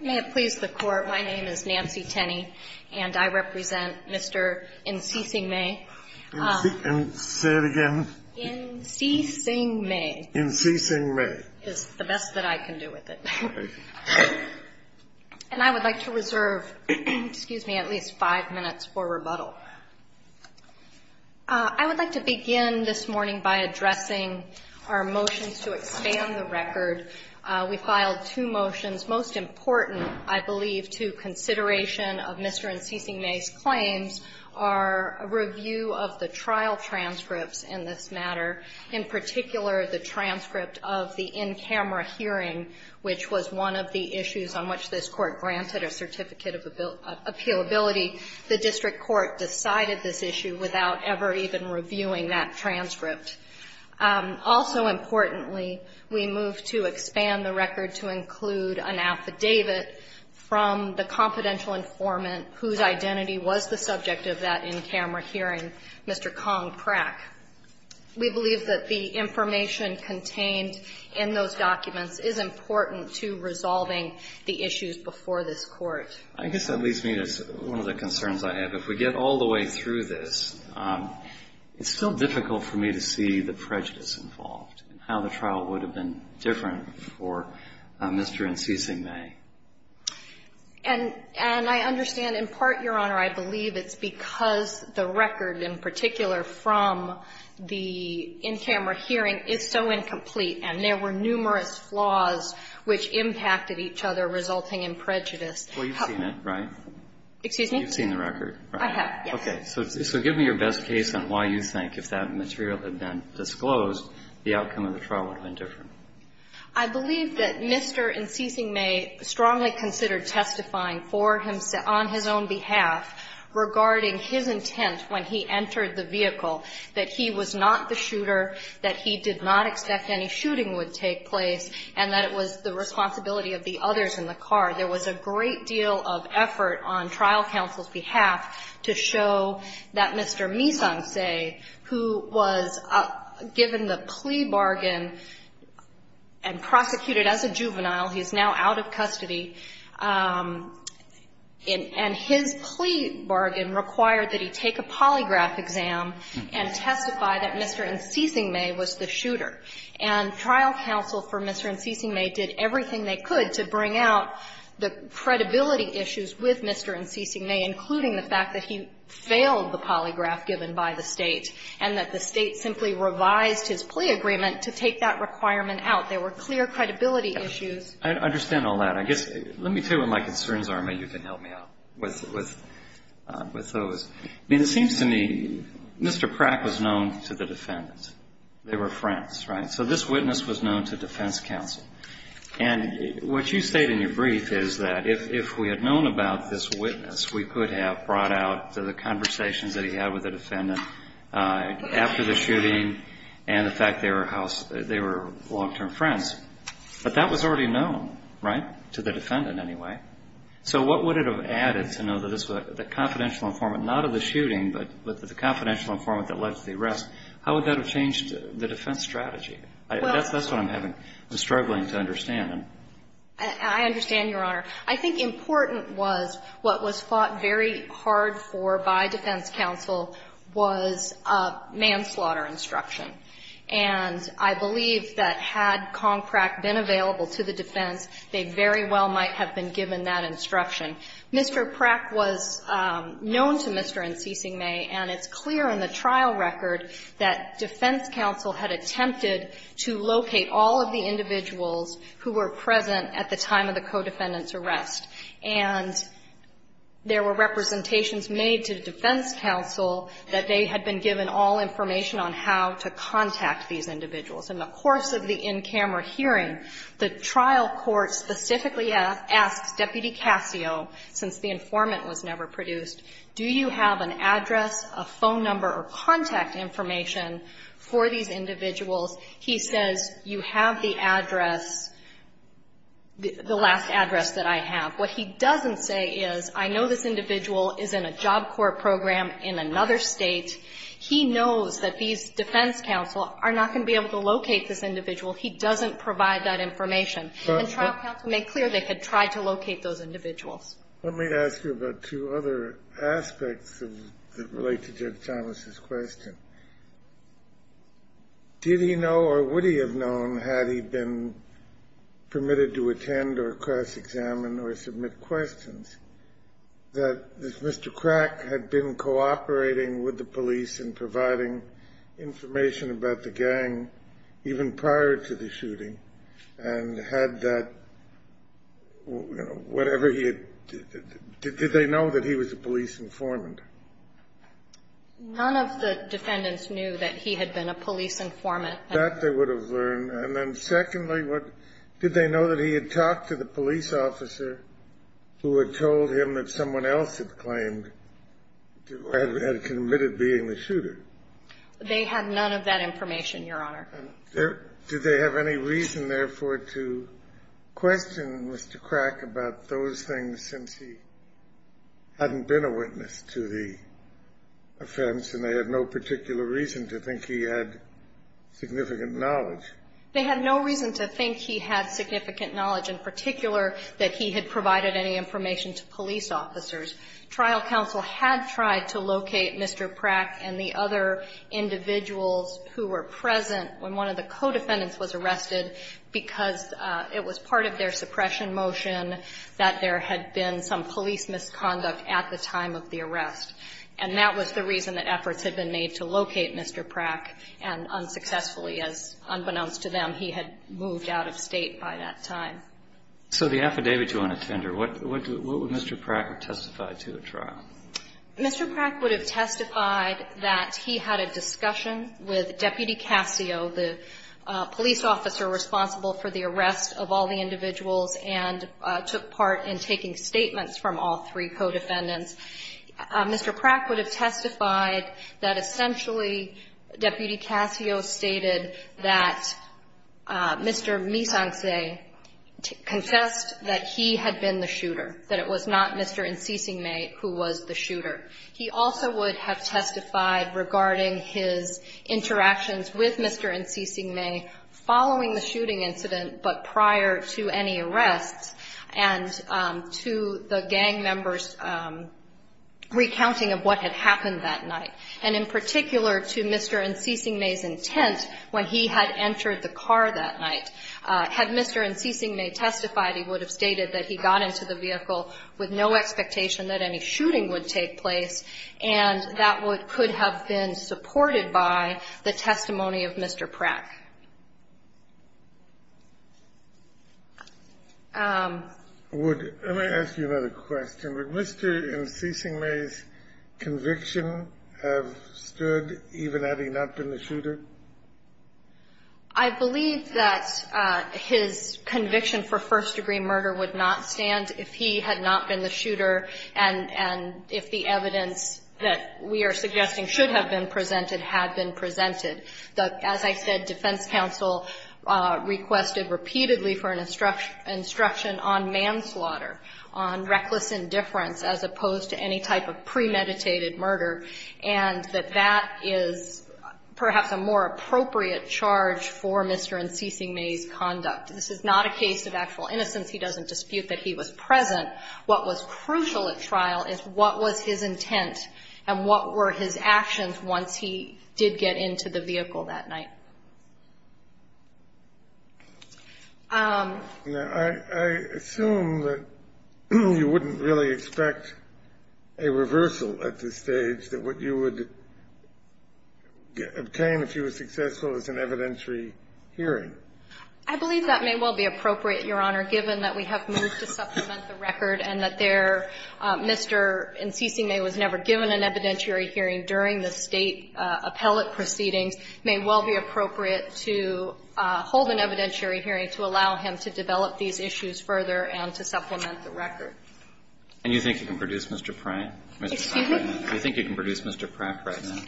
May it please the Court, my name is Nancy Tenney, and I represent Mr. Ensyxiengmay. Say it again. Ensyxiengmay. Ensyxiengmay. Is the best that I can do with it. And I would like to reserve, excuse me, at least five minutes for rebuttal. I would like to begin this morning by addressing our motions to expand the record. We filed two motions. Most important, I believe, to consideration of Mr. Ensyxiengmay's claims are a review of the trial transcripts in this matter. In particular, the transcript of the in-camera hearing, which was one of the issues on which this court granted a certificate of appealability. The district court decided this issue without ever even reviewing that transcript. Also importantly, we moved to expand the record to include an affidavit from the confidential informant whose identity was the subject of that in-camera hearing, Mr. Kong Prack. We believe that the information contained in those documents is important to resolving the issues before this court. I guess that leads me to one of the concerns I have. If we get all the way through this, it's still difficult for me to see the prejudice involved and how the trial would have been different for Mr. Ensyxiengmay. And I understand, in part, Your Honor, I believe it's because the record, in particular, from the in-camera hearing is so incomplete and there were numerous flaws which impacted each other, resulting in prejudice. Well, you've seen it, right? Excuse me? You've seen the record, right? I have, yes. Okay. So give me your best case on why you think if that material had been disclosed, the outcome of the trial would have been different. I believe that Mr. Ensyxiengmay strongly considered testifying for himself, on his own behalf, regarding his intent when he entered the vehicle, that he was not the shooter, that he did not expect any shooting would take place, and that it was the responsibility of the others in the car. There was a great deal of effort on trial counsel's behalf to show that Mr. Misanse, who was given the plea bargain and prosecuted as a juvenile, he's now out of custody, and his plea bargain required that he take a polygraph exam and testify that Mr. Ensyxiengmay was the shooter. And trial counsel for Mr. Ensyxiengmay did everything they could to bring out the credibility issues with Mr. Ensyxiengmay, including the fact that he failed the polygraph given by the State, and that the State simply revised his plea agreement to take that requirement out. There were clear credibility issues. I understand all that. I guess, let me tell you what my concerns are, and maybe you can help me out with those. I mean, it seems to me Mr. Pratt was known to the defendants. They were friends, right? So this witness was known to defense counsel. And what you state in your brief is that if we had known about this witness, we could have brought out the conversations that he had with the defendant after the shooting, and the fact they were long-term friends. But that was already known, right, to the defendant anyway. So what would it have added to know that the confidential informant, not of the shooting, but the confidential informant that led to the arrest, how would that have changed the defense strategy? I guess that's what I'm having, I'm struggling to understand. And I understand, Your Honor. I think important was what was fought very hard for by defense counsel was a manslaughter instruction. And I believe that had Kong Pratt been available to the defense, they very well might have been given that instruction. Mr. Pratt was known to Mr. Ensyxiengmay, and it's clear in the trial record that defense counsel had attempted to locate all of the individuals who were present at the time of the co-defendant's arrest. And there were representations made to defense counsel that they had been given all information on how to contact these individuals. In the course of the in-camera hearing, the trial court specifically asks Deputy Cassio, since the informant was never produced, do you have an address, a phone number, contact information for these individuals? He says, you have the address, the last address that I have. What he doesn't say is, I know this individual is in a job court program in another State. He knows that these defense counsel are not going to be able to locate this individual. He doesn't provide that information. And trial counsel made clear they had tried to locate those individuals. Let me ask you about two other aspects that relate to Judge Thomas's question. Did he know or would he have known, had he been permitted to attend or cross-examine or submit questions, that this Mr. Crack had been cooperating with the police and providing information about the gang even prior to the shooting, and had that whatever he had – did they know that he was a police informant? None of the defendants knew that he had been a police informant. That they would have learned. And then secondly, did they know that he had talked to the police officer who had told him that someone else had claimed – had committed being the shooter? They had none of that information, Your Honor. And there – did they have any reason, therefore, to question Mr. Crack about those things since he hadn't been a witness to the offense and they had no particular reason to think he had significant knowledge? They had no reason to think he had significant knowledge, in particular, that he had provided any information to police officers. Trial counsel had tried to locate Mr. Crack and the other individuals who were present when one of the co-defendants was arrested because it was part of their suppression motion that there had been some police misconduct at the time of the arrest. And that was the reason that efforts had been made to locate Mr. Crack, and unsuccessfully, as unbeknownst to them, he had moved out of State by that time. So the affidavit you want to tender, what would Mr. Crack have testified to at trial? Mr. Crack would have testified that he had a discussion with Deputy Cascio, the police officer responsible for the arrest of all the individuals, and took part in taking statements from all three co-defendants. Mr. Crack would have testified that essentially Deputy Cascio stated that Mr. Misance confessed that he had been the shooter, that it was not Mr. Nsisingme who was the shooter. He also would have testified regarding his interactions with Mr. Nsisingme following the shooting incident, but prior to any arrests, and to the gang members' recounting of what had happened that night. And in particular, to Mr. Nsisingme's intent when he had entered the car that night. Had Mr. Nsisingme testified, he would have stated that he got into the vehicle with no expectation that any shooting would take place, and that would could have been supported by the testimony of Mr. Crack. Would, let me ask you another question. Would Mr. Nsisingme's conviction have stood, even having not been the shooter? I believe that his conviction for first-degree murder would not stand if he had not been the shooter, and if the evidence that we are suggesting should have been presented had been presented. As I said, defense counsel requested repeatedly for an instruction on manslaughter, on reckless indifference, as opposed to any type of premeditated murder, and that that is perhaps a more appropriate charge for Mr. Nsisingme's conduct. This is not a case of actual innocence. He doesn't dispute that he was present. What was crucial at trial is what was his intent, and what were his actions once he did get into the vehicle that night? Now, I assume that you wouldn't really expect a reversal at this stage, that what you would obtain if you were successful is an evidentiary hearing. I believe that may well be appropriate, Your Honor, given that we have moved to supplement the record and that there, Mr. Nsisingme was never given an evidentiary hearing during the State appellate proceedings. It may well be appropriate to hold an evidentiary hearing to allow him to develop these issues further and to supplement the record. And you think you can produce, Mr. Pratt? Excuse me? Do you think you can produce Mr. Pratt right now?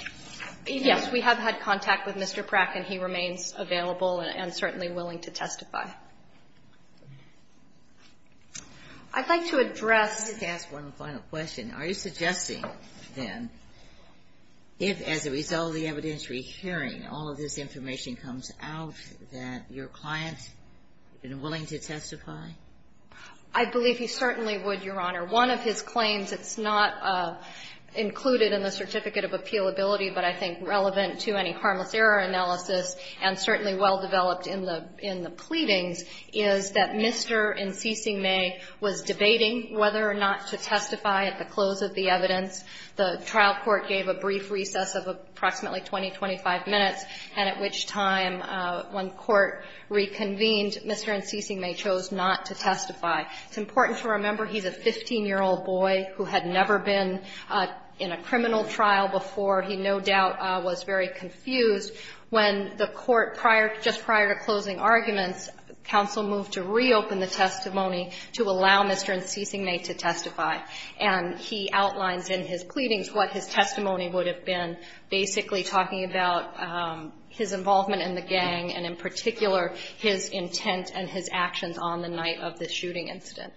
Yes. We have had contact with Mr. Pratt, and he remains available and certainly willing to testify. I'd like to address the last one final question. Are you suggesting, then, if, as a result of the evidentiary hearing, all of this information comes out that your client is willing to testify? I believe he certainly would, Your Honor. One of his claims, it's not included in the Certificate of Appealability, but I think relevant to any harmless error analysis and certainly well developed in the pleadings, is that Mr. Nsisingme was debating whether or not to testify at the close of the evidence. The trial court gave a brief recess of approximately 20, 25 minutes, and at which time, when court reconvened, Mr. Nsisingme chose not to testify. It's important to remember he's a 15-year-old boy who had never been in a criminal trial before. He, no doubt, was very confused when the court, just prior to closing arguments, counsel moved to reopen the testimony to allow Mr. Nsisingme to testify. And he outlines in his pleadings what his testimony would have been, basically talking about his involvement in the gang and, in particular, his intent and his intention in the shooting incident.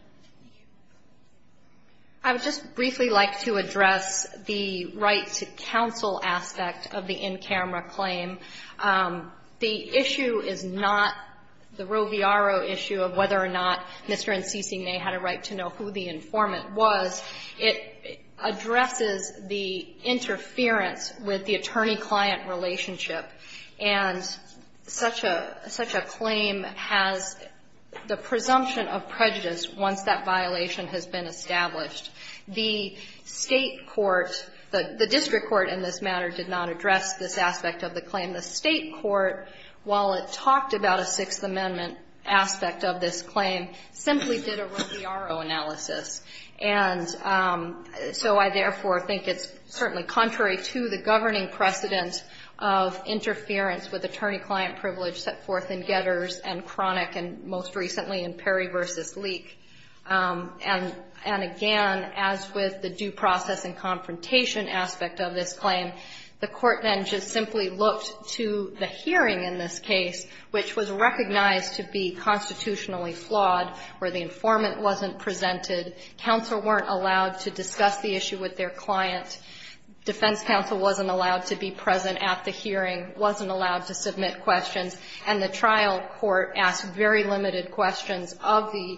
I would just briefly like to address the right-to-counsel aspect of the in-camera claim. The issue is not the Roviaro issue of whether or not Mr. Nsisingme had a right to know who the informant was. It addresses the interference with the attorney-client relationship, and such a claim has the presumption of prejudice once that violation has been established. The State court, the district court in this matter, did not address this aspect of the claim. The State court, while it talked about a Sixth Amendment aspect of this claim, simply did a Roviaro analysis. And so I, therefore, think it's certainly contrary to the governing precedent of interference with attorney-client privilege set forth in Getters and Chronic and, most recently, in Perry v. Leek. And, again, as with the due process and confrontation aspect of this claim, the court then just simply looked to the hearing in this case, which was recognized to be constitutionally flawed, where the informant wasn't presented, counsel weren't allowed to discuss the issue with their client, defense counsel wasn't allowed to be present at the hearing, wasn't allowed to submit questions, and the trial court asked very limited questions of the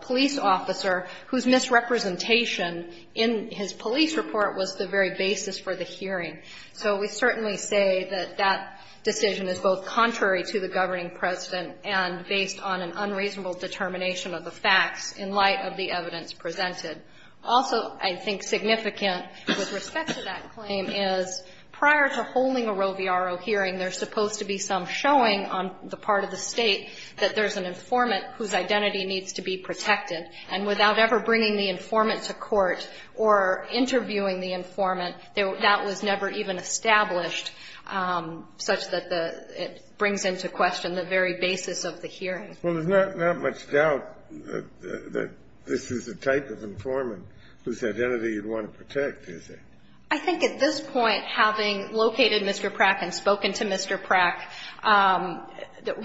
police officer whose misrepresentation in his police report was the very basis for the hearing. So we certainly say that that decision is both contrary to the governing precedent and based on an unreasonable determination of the facts in light of the evidence presented. Also, I think significant with respect to that claim is prior to holding a Roviaro hearing, there's supposed to be some showing on the part of the State that there's an informant whose identity needs to be protected. And without ever bringing the informant to court or interviewing the informant, that was never even established such that the – it brings into question the very basis of the hearing. Well, there's not much doubt that this is the type of informant whose identity you'd want to protect, is there? I think at this point, having located Mr. Prack and spoken to Mr. Prack,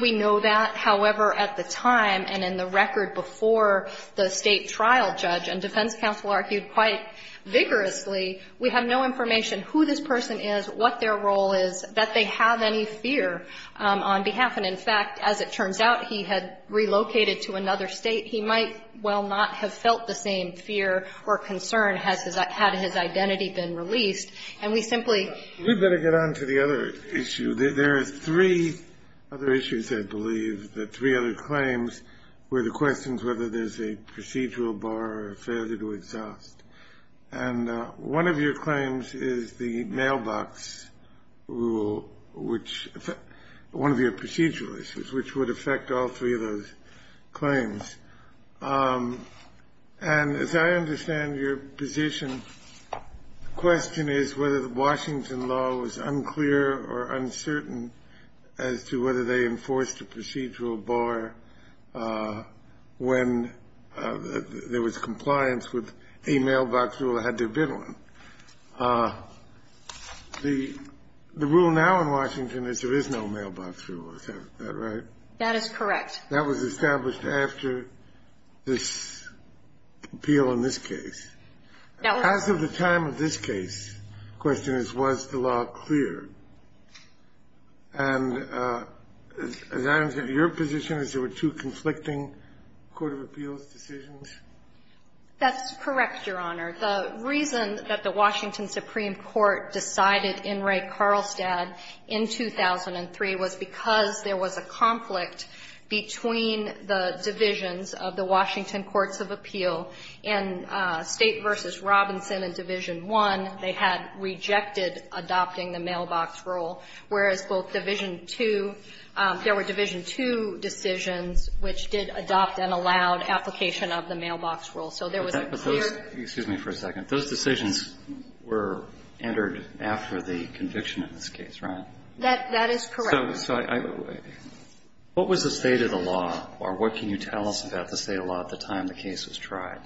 we know that. However, at the time and in the record before the State trial judge and defense counsel argued quite vigorously, we have no information who this person is, what their role is, that they have any fear on behalf. And, in fact, as it turns out, he had relocated to another State. He might well not have felt the same fear or concern had his identity been released. And we simply – We'd better get on to the other issue. There are three other issues, I believe, the three other claims where the question is whether there's a procedural bar or failure to exhaust. And one of your claims is the mailbox rule, which – one of your procedural issues, which would affect all three of those claims. And as I understand your position, the question is whether the Washington law was unclear or uncertain as to whether they enforced a procedural bar when there was compliance with a mailbox rule they had their bid on. The rule now in Washington is there is no mailbox rule. Is that right? That is correct. That was established after this appeal in this case. Now, as of the time of this case, the question is was the law clear. And as I understand your position is there were two conflicting court of appeals decisions. That's correct, Your Honor. The reason that the Washington Supreme Court decided in Ray Carlstad in 2003 was because there was a conflict between the divisions of the Washington courts of appeal. In State v. Robinson in Division I, they had rejected adopting the mailbox rule, whereas both Division II – there were Division II decisions which did adopt and were in violation of the mailbox rule. So there was a clear – But those – excuse me for a second. Those decisions were entered after the conviction in this case, right? That is correct. So I – what was the state of the law, or what can you tell us about the state of the law at the time the case was tried?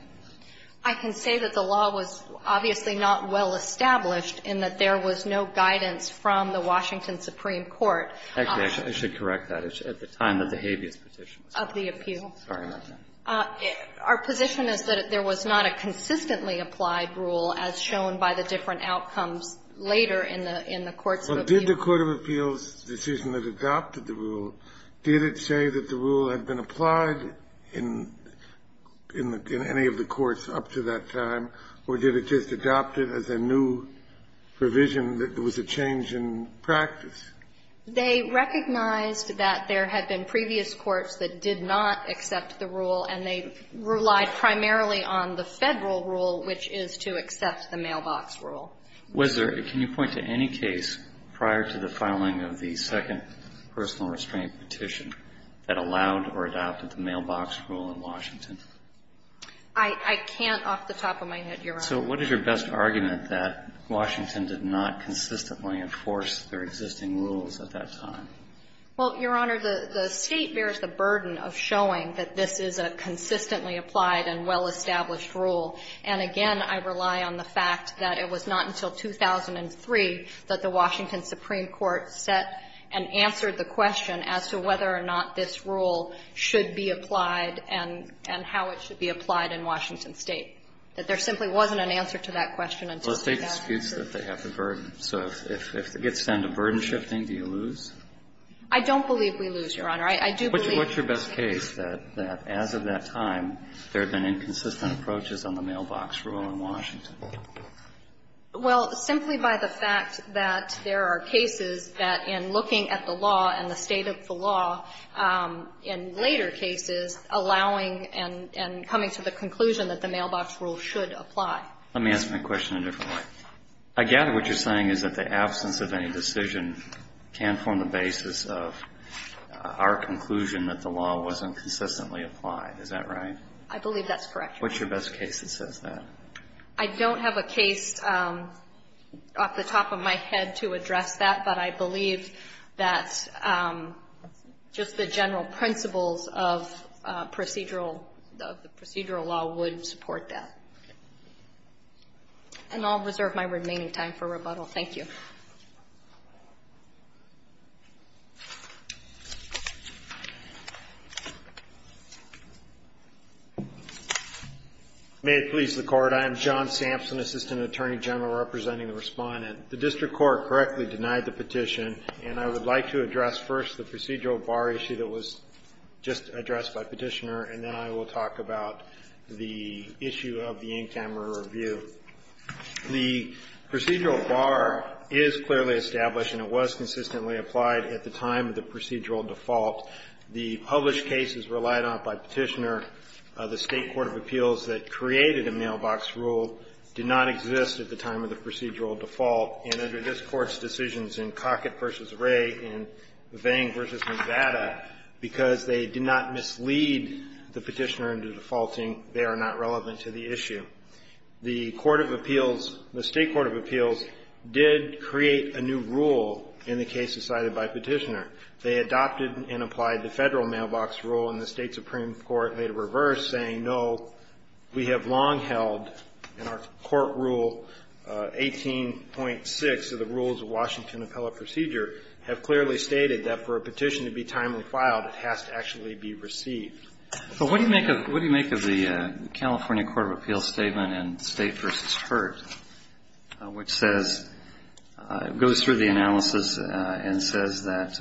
I can say that the law was obviously not well established, and that there was no guidance from the Washington Supreme Court. Okay. I should correct that. It's at the time that the habeas petition was – Of the appeal. Sorry about that. Our position is that there was not a consistently applied rule, as shown by the different outcomes later in the – in the courts of appeal. Well, did the court of appeals decision that adopted the rule, did it say that the rule had been applied in – in any of the courts up to that time, or did it just adopt it as a new provision that was a change in practice? They recognized that there had been previous courts that did not accept the rule, and they relied primarily on the Federal rule, which is to accept the mailbox rule. Was there – can you point to any case prior to the filing of the second personal restraint petition that allowed or adopted the mailbox rule in Washington? I – I can't off the top of my head, Your Honor. So what is your best argument that Washington did not consistently enforce their existing rules at that time? Well, Your Honor, the State bears the burden of showing that this is a consistently applied and well-established rule. And again, I rely on the fact that it was not until 2003 that the Washington Supreme Court set and answered the question as to whether or not this rule should be applied and how it should be applied in Washington State, that there simply wasn't an answer to that question until that time. Well, the State disputes that they have the burden. So if it gets down to burden-shifting, do you lose? I don't believe we lose, Your Honor. I do believe we lose. What's your best case that, as of that time, there have been inconsistent approaches on the mailbox rule in Washington? Well, simply by the fact that there are cases that, in looking at the law and the state of the law, in later cases, allowing and coming to the conclusion that the mailbox rule should apply. Let me ask my question in a different way. I gather what you're saying is that the absence of any decision can form the basis of our conclusion that the law wasn't consistently applied. Is that right? I believe that's correct. What's your best case that says that? I don't have a case off the top of my head to address that, but I believe that just the general principles of procedural, of the procedural law would support that. And I'll reserve my remaining time for rebuttal. Thank you. May it please the Court. I am John Sampson, Assistant Attorney General, representing the Respondent. The district court correctly denied the petition, and I would like to address first the procedural bar issue that was just addressed by Petitioner, and then I will talk about the issue of the Inkhammer review. The procedural bar is clearly established, and it was consistently applied at the time of the procedural default. The published cases relied on by Petitioner, the State court of appeals that created a mailbox rule, did not exist at the time of the procedural default. And under this Court's decisions in Cockett v. Ray and Vang v. Nevada, because they did not mislead the Petitioner into defaulting, they are not relevant to the issue. The court of appeals, the State court of appeals did create a new rule in the case decided by Petitioner. They adopted and applied the federal mailbox rule, and the State supreme court made a reverse saying, no, we have long held in our court rule 18.6 of the rules of Washington appellate procedure have clearly stated that for a petition to be actually be received. So what do you make of the California court of appeals statement in State v. Hurt, which says, goes through the analysis and says that,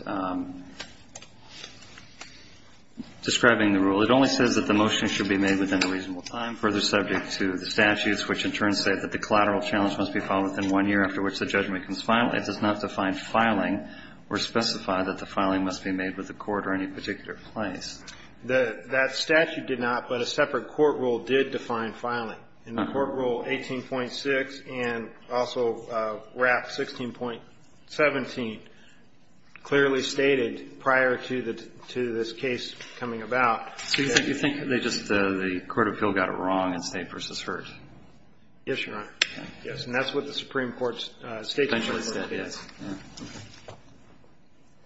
describing the rule, it only says that the motion should be made within a reasonable time, further subject to the statutes, which in turn say that the collateral challenge must be filed within one year after which the judgment can be filed. It does not define filing or specify that the filing must be made with the court or any particular place. That statute did not, but a separate court rule did define filing. In the court rule 18.6 and also WRAP 16.17 clearly stated prior to this case coming about. So you think they just, the court of appeal got it wrong in State v. Hurt? Yes, Your Honor. Yes. And that's what the Supreme Court's State v. Hurt said, yes.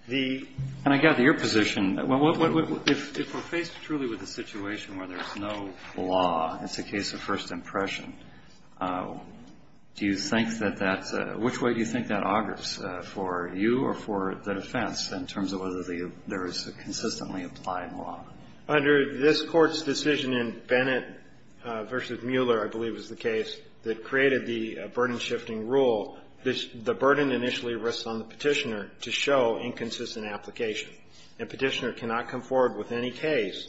And I gather your position, if we're faced truly with a situation where there's no law, it's a case of first impression, do you think that that's, which way do you think that augurs for you or for the defense in terms of whether there is a consistently applied law? Under this Court's decision in Bennett v. Mueller, I believe is the case, that created the burden-shifting rule. The burden initially rests on the Petitioner to show inconsistent application. And Petitioner cannot come forward with any case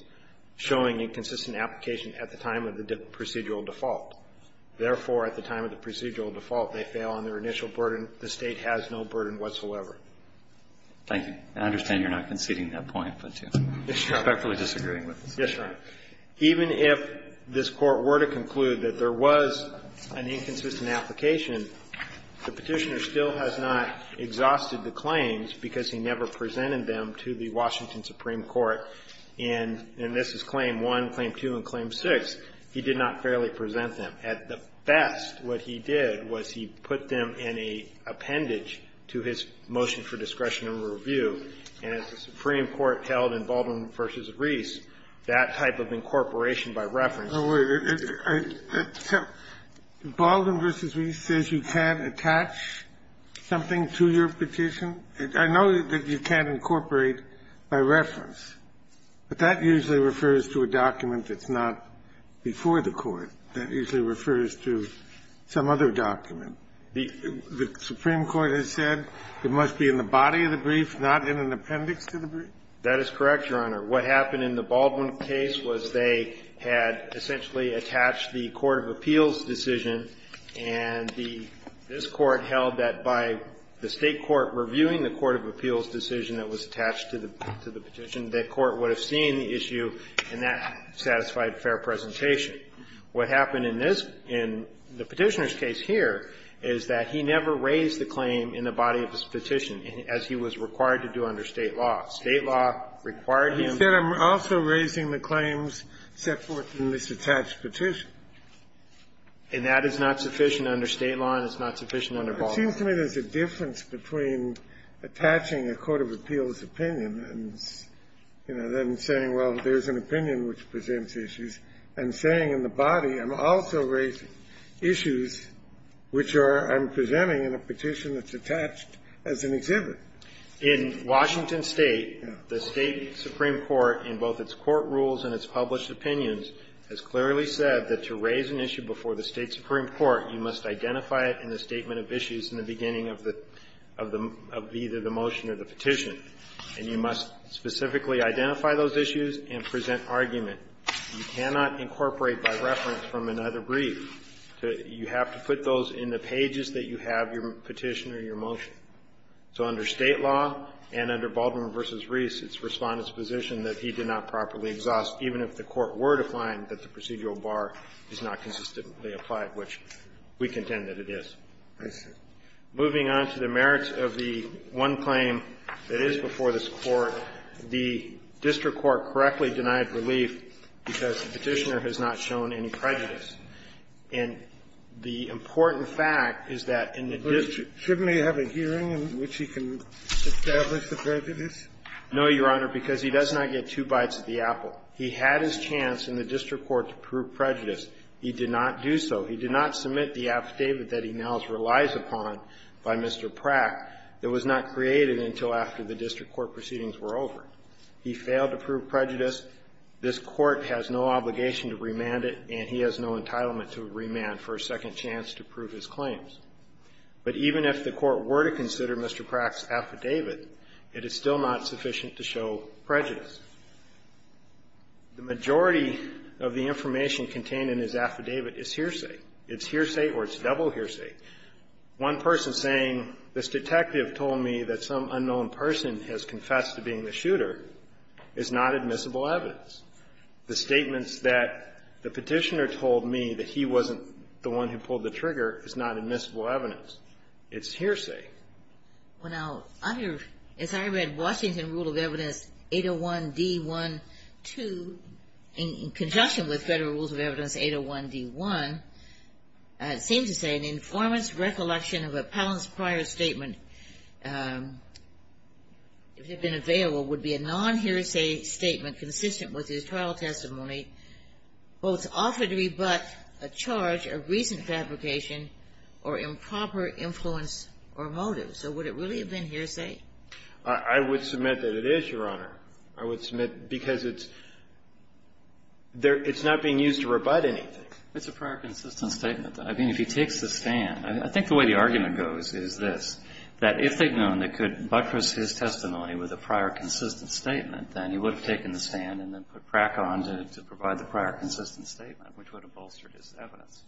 showing inconsistent application at the time of the procedural default. Therefore, at the time of the procedural default, they fail on their initial burden. The State has no burden whatsoever. Thank you. I understand you're not conceding that point, but respectfully disagreeing with it. Yes, Your Honor. Even if this Court were to conclude that there was an inconsistent application, the Petitioner still has not exhausted the claims because he never presented them to the Washington Supreme Court in, and this is Claim 1, Claim 2, and Claim 6. He did not fairly present them. At the best, what he did was he put them in an appendage to his motion for discretion and review. And as the Supreme Court held in Baldwin v. Reese, that type of incorporation by reference to the brief. So Baldwin v. Reese says you can't attach something to your petition? I know that you can't incorporate by reference, but that usually refers to a document that's not before the Court. That usually refers to some other document. The Supreme Court has said it must be in the body of the brief, not in an appendix to the brief? That is correct, Your Honor. What happened in the Baldwin case was they had essentially attached the court of appeals decision, and the this Court held that by the State court reviewing the court of appeals decision that was attached to the petition, that court would have seen the issue and that satisfied fair presentation. What happened in this one, in the Petitioner's case here, is that he never raised the claim in the body of his petition, as he was required to do under State law. State law required him to do it. He said, I'm also raising the claims set forth in this attached petition. And that is not sufficient under State law, and it's not sufficient under Baldwin. Well, it seems to me there's a difference between attaching a court of appeals opinion and, you know, then saying, well, there's an opinion which presents issues, and saying in the body, I'm also raising issues which are I'm presenting in a petition that's attached as an exhibit. In Washington State, the State supreme court, in both its court rules and its published opinions, has clearly said that to raise an issue before the State supreme court, you must identify it in the statement of issues in the beginning of the – of either the motion or the petition. And you must specifically identify those issues and present argument. You cannot incorporate by reference from another brief. You have to put those in the pages that you have your petition or your motion. So under State law and under Baldwin v. Reese, it's Respondent's position that he did not properly exhaust, even if the court were to find that the procedural bar is not consistently applied, which we contend that it is. I see. Moving on to the merits of the one claim that is before this Court, the district court correctly denied relief because the Petitioner has not shown any prejudice. And the important fact is that in the district – Shouldn't he have a hearing in which he can establish the prejudice? No, Your Honor, because he does not get two bites of the apple. He had his chance in the district court to prove prejudice. He did not do so. He did not submit the affidavit that he now relies upon by Mr. Pratt that was not created until after the district court proceedings were over. He failed to prove prejudice. This Court has no obligation to remand it, and he has no entitlement to remand for a second chance to prove his claims. But even if the court were to consider Mr. Pratt's affidavit, it is still not sufficient to show prejudice. The majority of the information contained in his affidavit is hearsay. It's hearsay or it's double hearsay. One person saying, this detective told me that some unknown person has confessed to being the shooter is not admissible evidence. The statements that the Petitioner told me that he wasn't the one who pulled the trigger is not admissible evidence. It's hearsay. Well, now, under, as I read, Washington Rule of Evidence 801-D-1-2 in conjunction with Federal Rules of Evidence 801-D-1, it seems to say an informant's recollection of an appellant's prior statement, if it had been available, would be a non-hearsay statement consistent with his trial testimony, both offered to be but a charge of recent fabrication or improper influence or motive. So would it really have been hearsay? I would submit that it is, Your Honor. I would submit because it's not being used to rebut anything. It's a prior consistent statement. I mean, if he takes the stand, I think the way the argument goes is this, that if they had known they could buttress his testimony with a prior consistent statement, then he would have taken the stand and then put Pratt on to provide the prior consistent statement, which would have bolstered his evidence,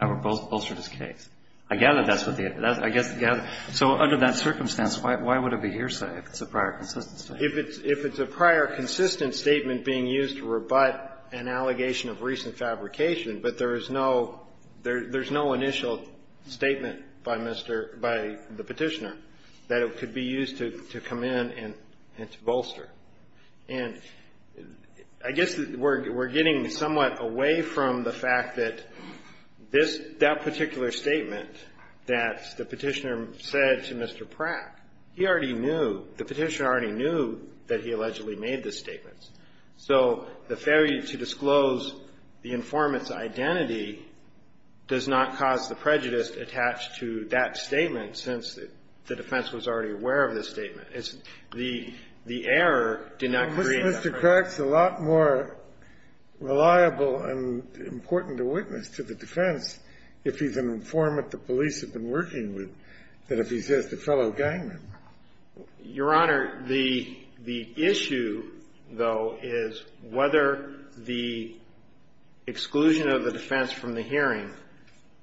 or bolstered his case. I gather that's what the other one is. So under that circumstance, why would it be hearsay if it's a prior consistent statement? If it's a prior consistent statement being used to rebut an allegation of recent fabrication, but there is no initial statement by Mr. — by the Petitioner that it could be used to come in and to bolster. And I guess we're getting somewhat away from the fact that this — that particular statement that the Petitioner said to Mr. Pratt, he already knew, the Petitioner already knew that he allegedly made this statement. So the failure to disclose the informant's identity does not cause the prejudice attached to that statement, since the defense was already aware of this statement. It's — the error did not create that. Well, Mr. Crack's a lot more reliable and important a witness to the defense if he's an informant the police have been working with than if he's just a fellow gang member. Your Honor, the issue, though, is whether the exclusion of the defense from the hearing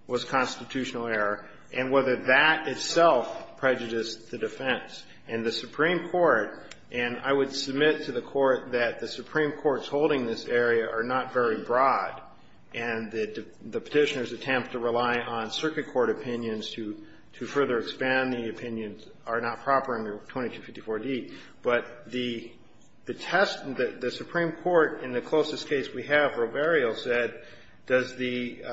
was constitutional error, and whether that itself prejudiced the defense, and the Supreme Court — and I would submit to the Court that the Supreme Court's holding this area are not very broad, and the Petitioner's attempt to rely on circuit court opinions to — to further expand the opinions are not proper under 2254d. But the test — the Supreme Court, in the closest case we have, Roberio, said, does the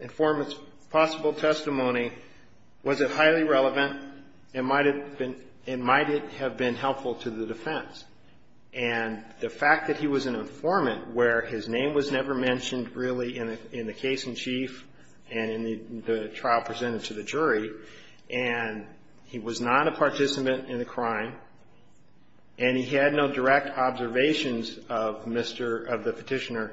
informant's possible testimony — was it highly relevant? And might it been — and might it have been helpful to the defense? And the fact that he was an informant where his name was never mentioned really in the case in chief and in the trial presented to the jury, and he was not a participant in the crime, and he had no direct observations of Mr. — of the Petitioner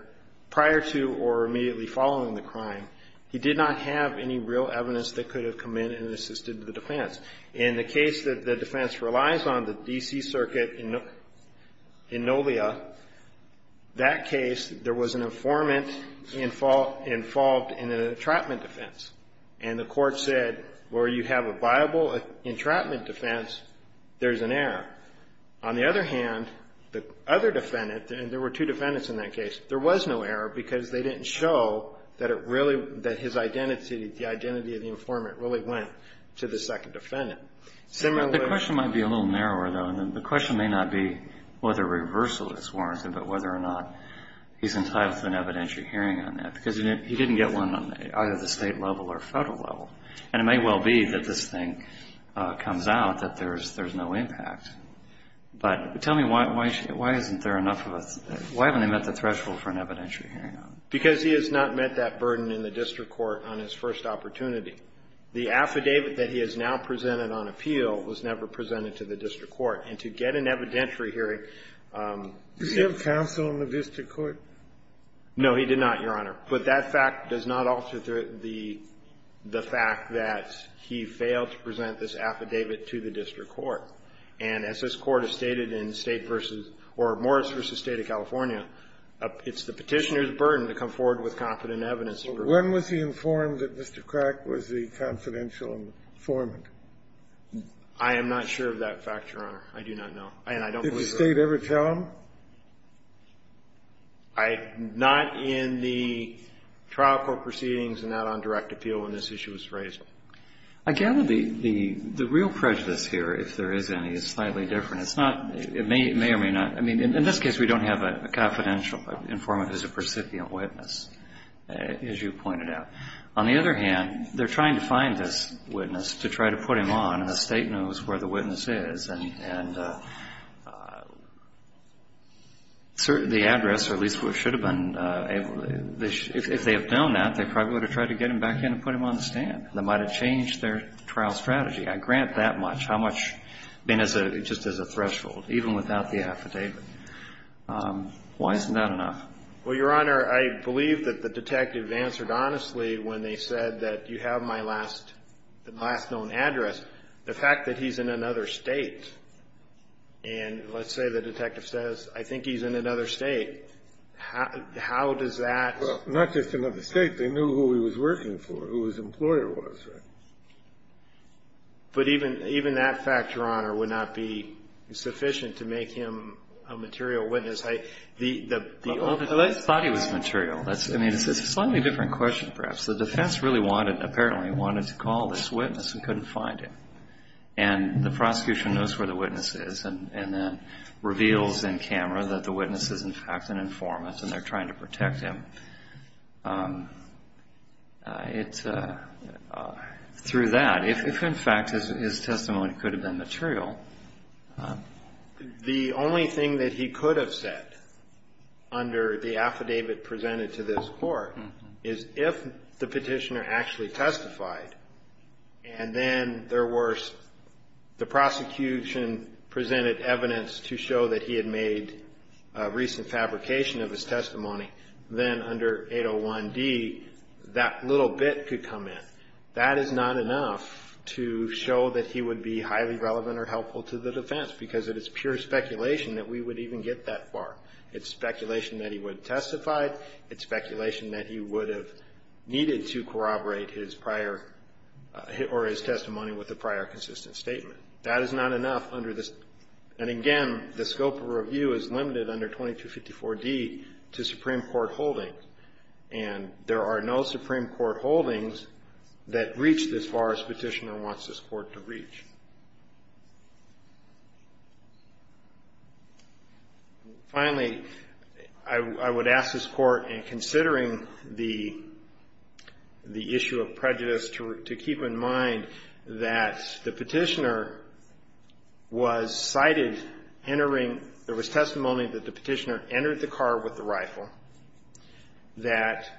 prior to or immediately following the crime, he did not have any real evidence that could have come in and assisted the defense. In the case that the defense relies on, the D.C. Circuit in Nolia, that case, there was an informant involved in an entrapment defense, and the Court said, where you have a viable entrapment defense, there's an error. On the other hand, the other defendant — and there were two defendants in that case — there was no error because they didn't show that it really — that his identity, the identity of the informant, really went to the second defendant. Similar — The question might be a little narrower, though, and the question may not be whether reversal is warranted, but whether or not he's entitled to an evidentiary hearing on that, because he didn't get one on either the state level or federal level. And it may well be that this thing comes out, that there's no impact. But tell me, why isn't there enough of a — why haven't they met the threshold for an evidentiary hearing on it? Because he has not met that burden in the district court on his first opportunity. The affidavit that he has now presented on appeal was never presented to the district court, and to get an evidentiary hearing — Did he have counsel in the district court? No, he did not, Your Honor. But that fact does not alter the fact that he failed to present this affidavit to the district court. And as this Court has stated in State v. — or Morris v. State of California, it's the Petitioner's burden to come forward with confident evidence. When was he informed that Mr. Crack was the confidential informant? I am not sure of that fact, Your Honor. I do not know. And I don't believe — Did the State ever tell him? I — not in the trial court proceedings and not on direct appeal when this issue was raised. I gather the real prejudice here, if there is any, is slightly different. It's not — it may or may not — I mean, in this case, we don't have a confidential informant as a recipient witness, as you pointed out. On the other hand, they're trying to find this witness to try to put him on, and the State knows where the witness is. And the address, or at least what should have been — if they have done that, they probably would have tried to get him back in and put him on the stand. That might have changed their trial strategy. I grant that much. How much? I mean, just as a threshold, even without the affidavit. Why isn't that enough? Well, Your Honor, I believe that the detective answered honestly when they said that you have my last known address. The fact that he's in another State, and let's say the detective says, I think he's in another State, how does that — Well, not just another State. They knew who he was working for, who his employer was. But even that fact, Your Honor, would not be sufficient to make him a material witness. The — Well, they thought he was material. I mean, it's a slightly different question, perhaps. The defense really wanted — apparently wanted to call this witness and couldn't find him. And the prosecution knows where the witness is and then reveals in camera that the witness is, in fact, an informant, and they're trying to protect him. It's — through that, if, in fact, his testimony could have been material — The only thing that he could have said under the affidavit presented to this Court is if the petitioner actually testified, and then there was — the prosecution presented evidence to show that he had made a recent fabrication of his testimony, then under 801D, that little bit could come in. That is not enough to show that he would be highly relevant or helpful to the defense because it is pure speculation that we would even get that far. It's speculation that he would have testified. It's speculation that he would have needed to corroborate his prior — or his testimony with a prior consistent statement. That is not enough under this. And again, the scope of review is limited under 2254D to Supreme Court holdings. And there are no Supreme Court holdings that reach this far as the petitioner wants this Court to reach. Finally, I would ask this Court, in considering the issue of prejudice, to keep in mind that the petitioner was cited entering — there was testimony that the petitioner entered the car with the rifle, that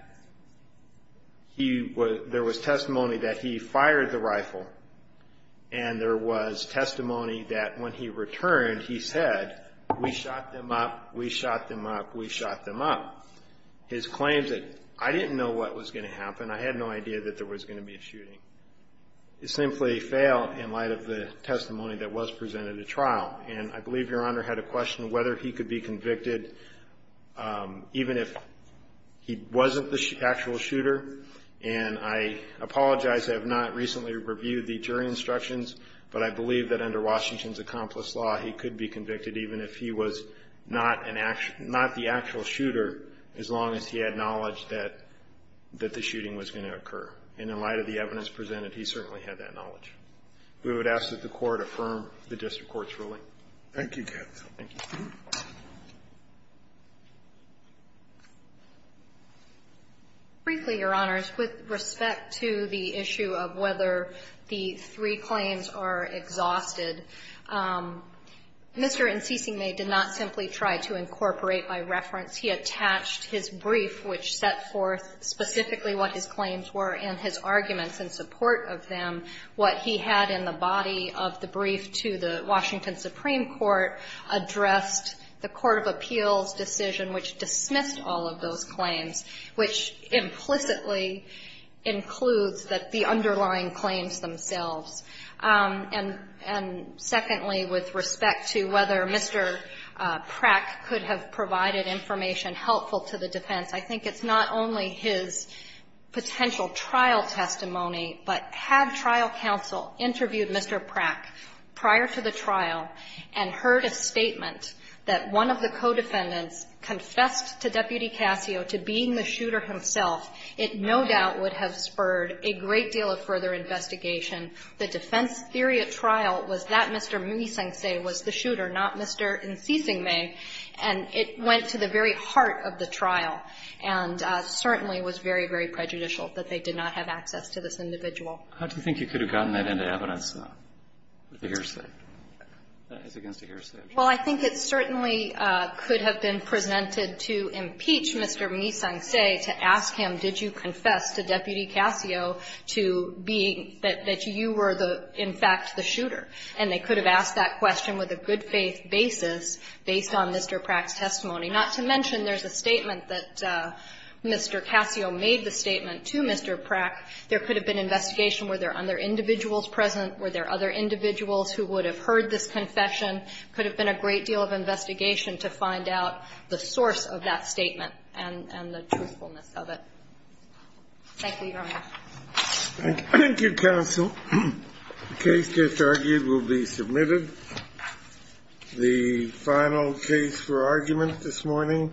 he — there was testimony that he fired the rifle, and there was testimony that when he returned, he said, we shot them up, we shot them up, we shot them up. His claims that — I didn't know what was going to happen. I had no idea that there was going to be a shooting. It simply failed in light of the testimony that was presented at trial. And I believe Your Honor had a question whether he could be convicted even if he wasn't the actual shooter. And I apologize, I have not recently reviewed the jury instructions, but I believe that under Washington's accomplice law, he could be convicted even if he was not the actual shooter as long as he had knowledge that the shooting was going to occur. And in light of the evidence presented, he certainly had that knowledge. We would ask that the Court affirm the district court's ruling. Thank you, Captain. Thank you. Briefly, Your Honors, with respect to the issue of whether the three claims are exhausted, Mr. Ntsisime did not simply try to incorporate by reference. He attached his brief, which set forth specifically what his claims were, and his arguments in support of them. What he had in the body of the brief to the Washington Supreme Court addressed the Court of Appeals' decision, which dismissed all of those claims, which implicitly includes the underlying claims themselves. And secondly, with respect to whether Mr. Prack could have provided information helpful to the defense, I think it's not only his potential trial testimony, but had trial counsel interviewed Mr. Prack prior to the trial and heard a statement that one of the co-defendants confessed to Deputy Casio to being the shooter himself, it no doubt would have spurred a great deal of further investigation. The defense theory at trial was that Mr. Ntsisime was the shooter, not Mr. Ntsisime, and it went to the very heart of the trial and certainly was very, very prejudicial that they did not have access to this individual. How do you think you could have gotten that into evidence, though, with a hearsay? That is against a hearsay. Well, I think it certainly could have been presented to impeach Mr. Ntsisime to ask him, did you confess to Deputy Casio to being that you were, in fact, the shooter? And they could have asked that question with a good-faith basis based on Mr. Prack's testimony, not to mention there's a statement that Mr. Casio made the statement to Mr. Prack. There could have been investigation. Were there other individuals present? Were there other individuals who would have heard this confession? Could have been a great deal of investigation to find out the source of that statement and the truthfulness of it. Thank you, Your Honor. Thank you, counsel. The case just argued will be submitted. The final case for argument this morning...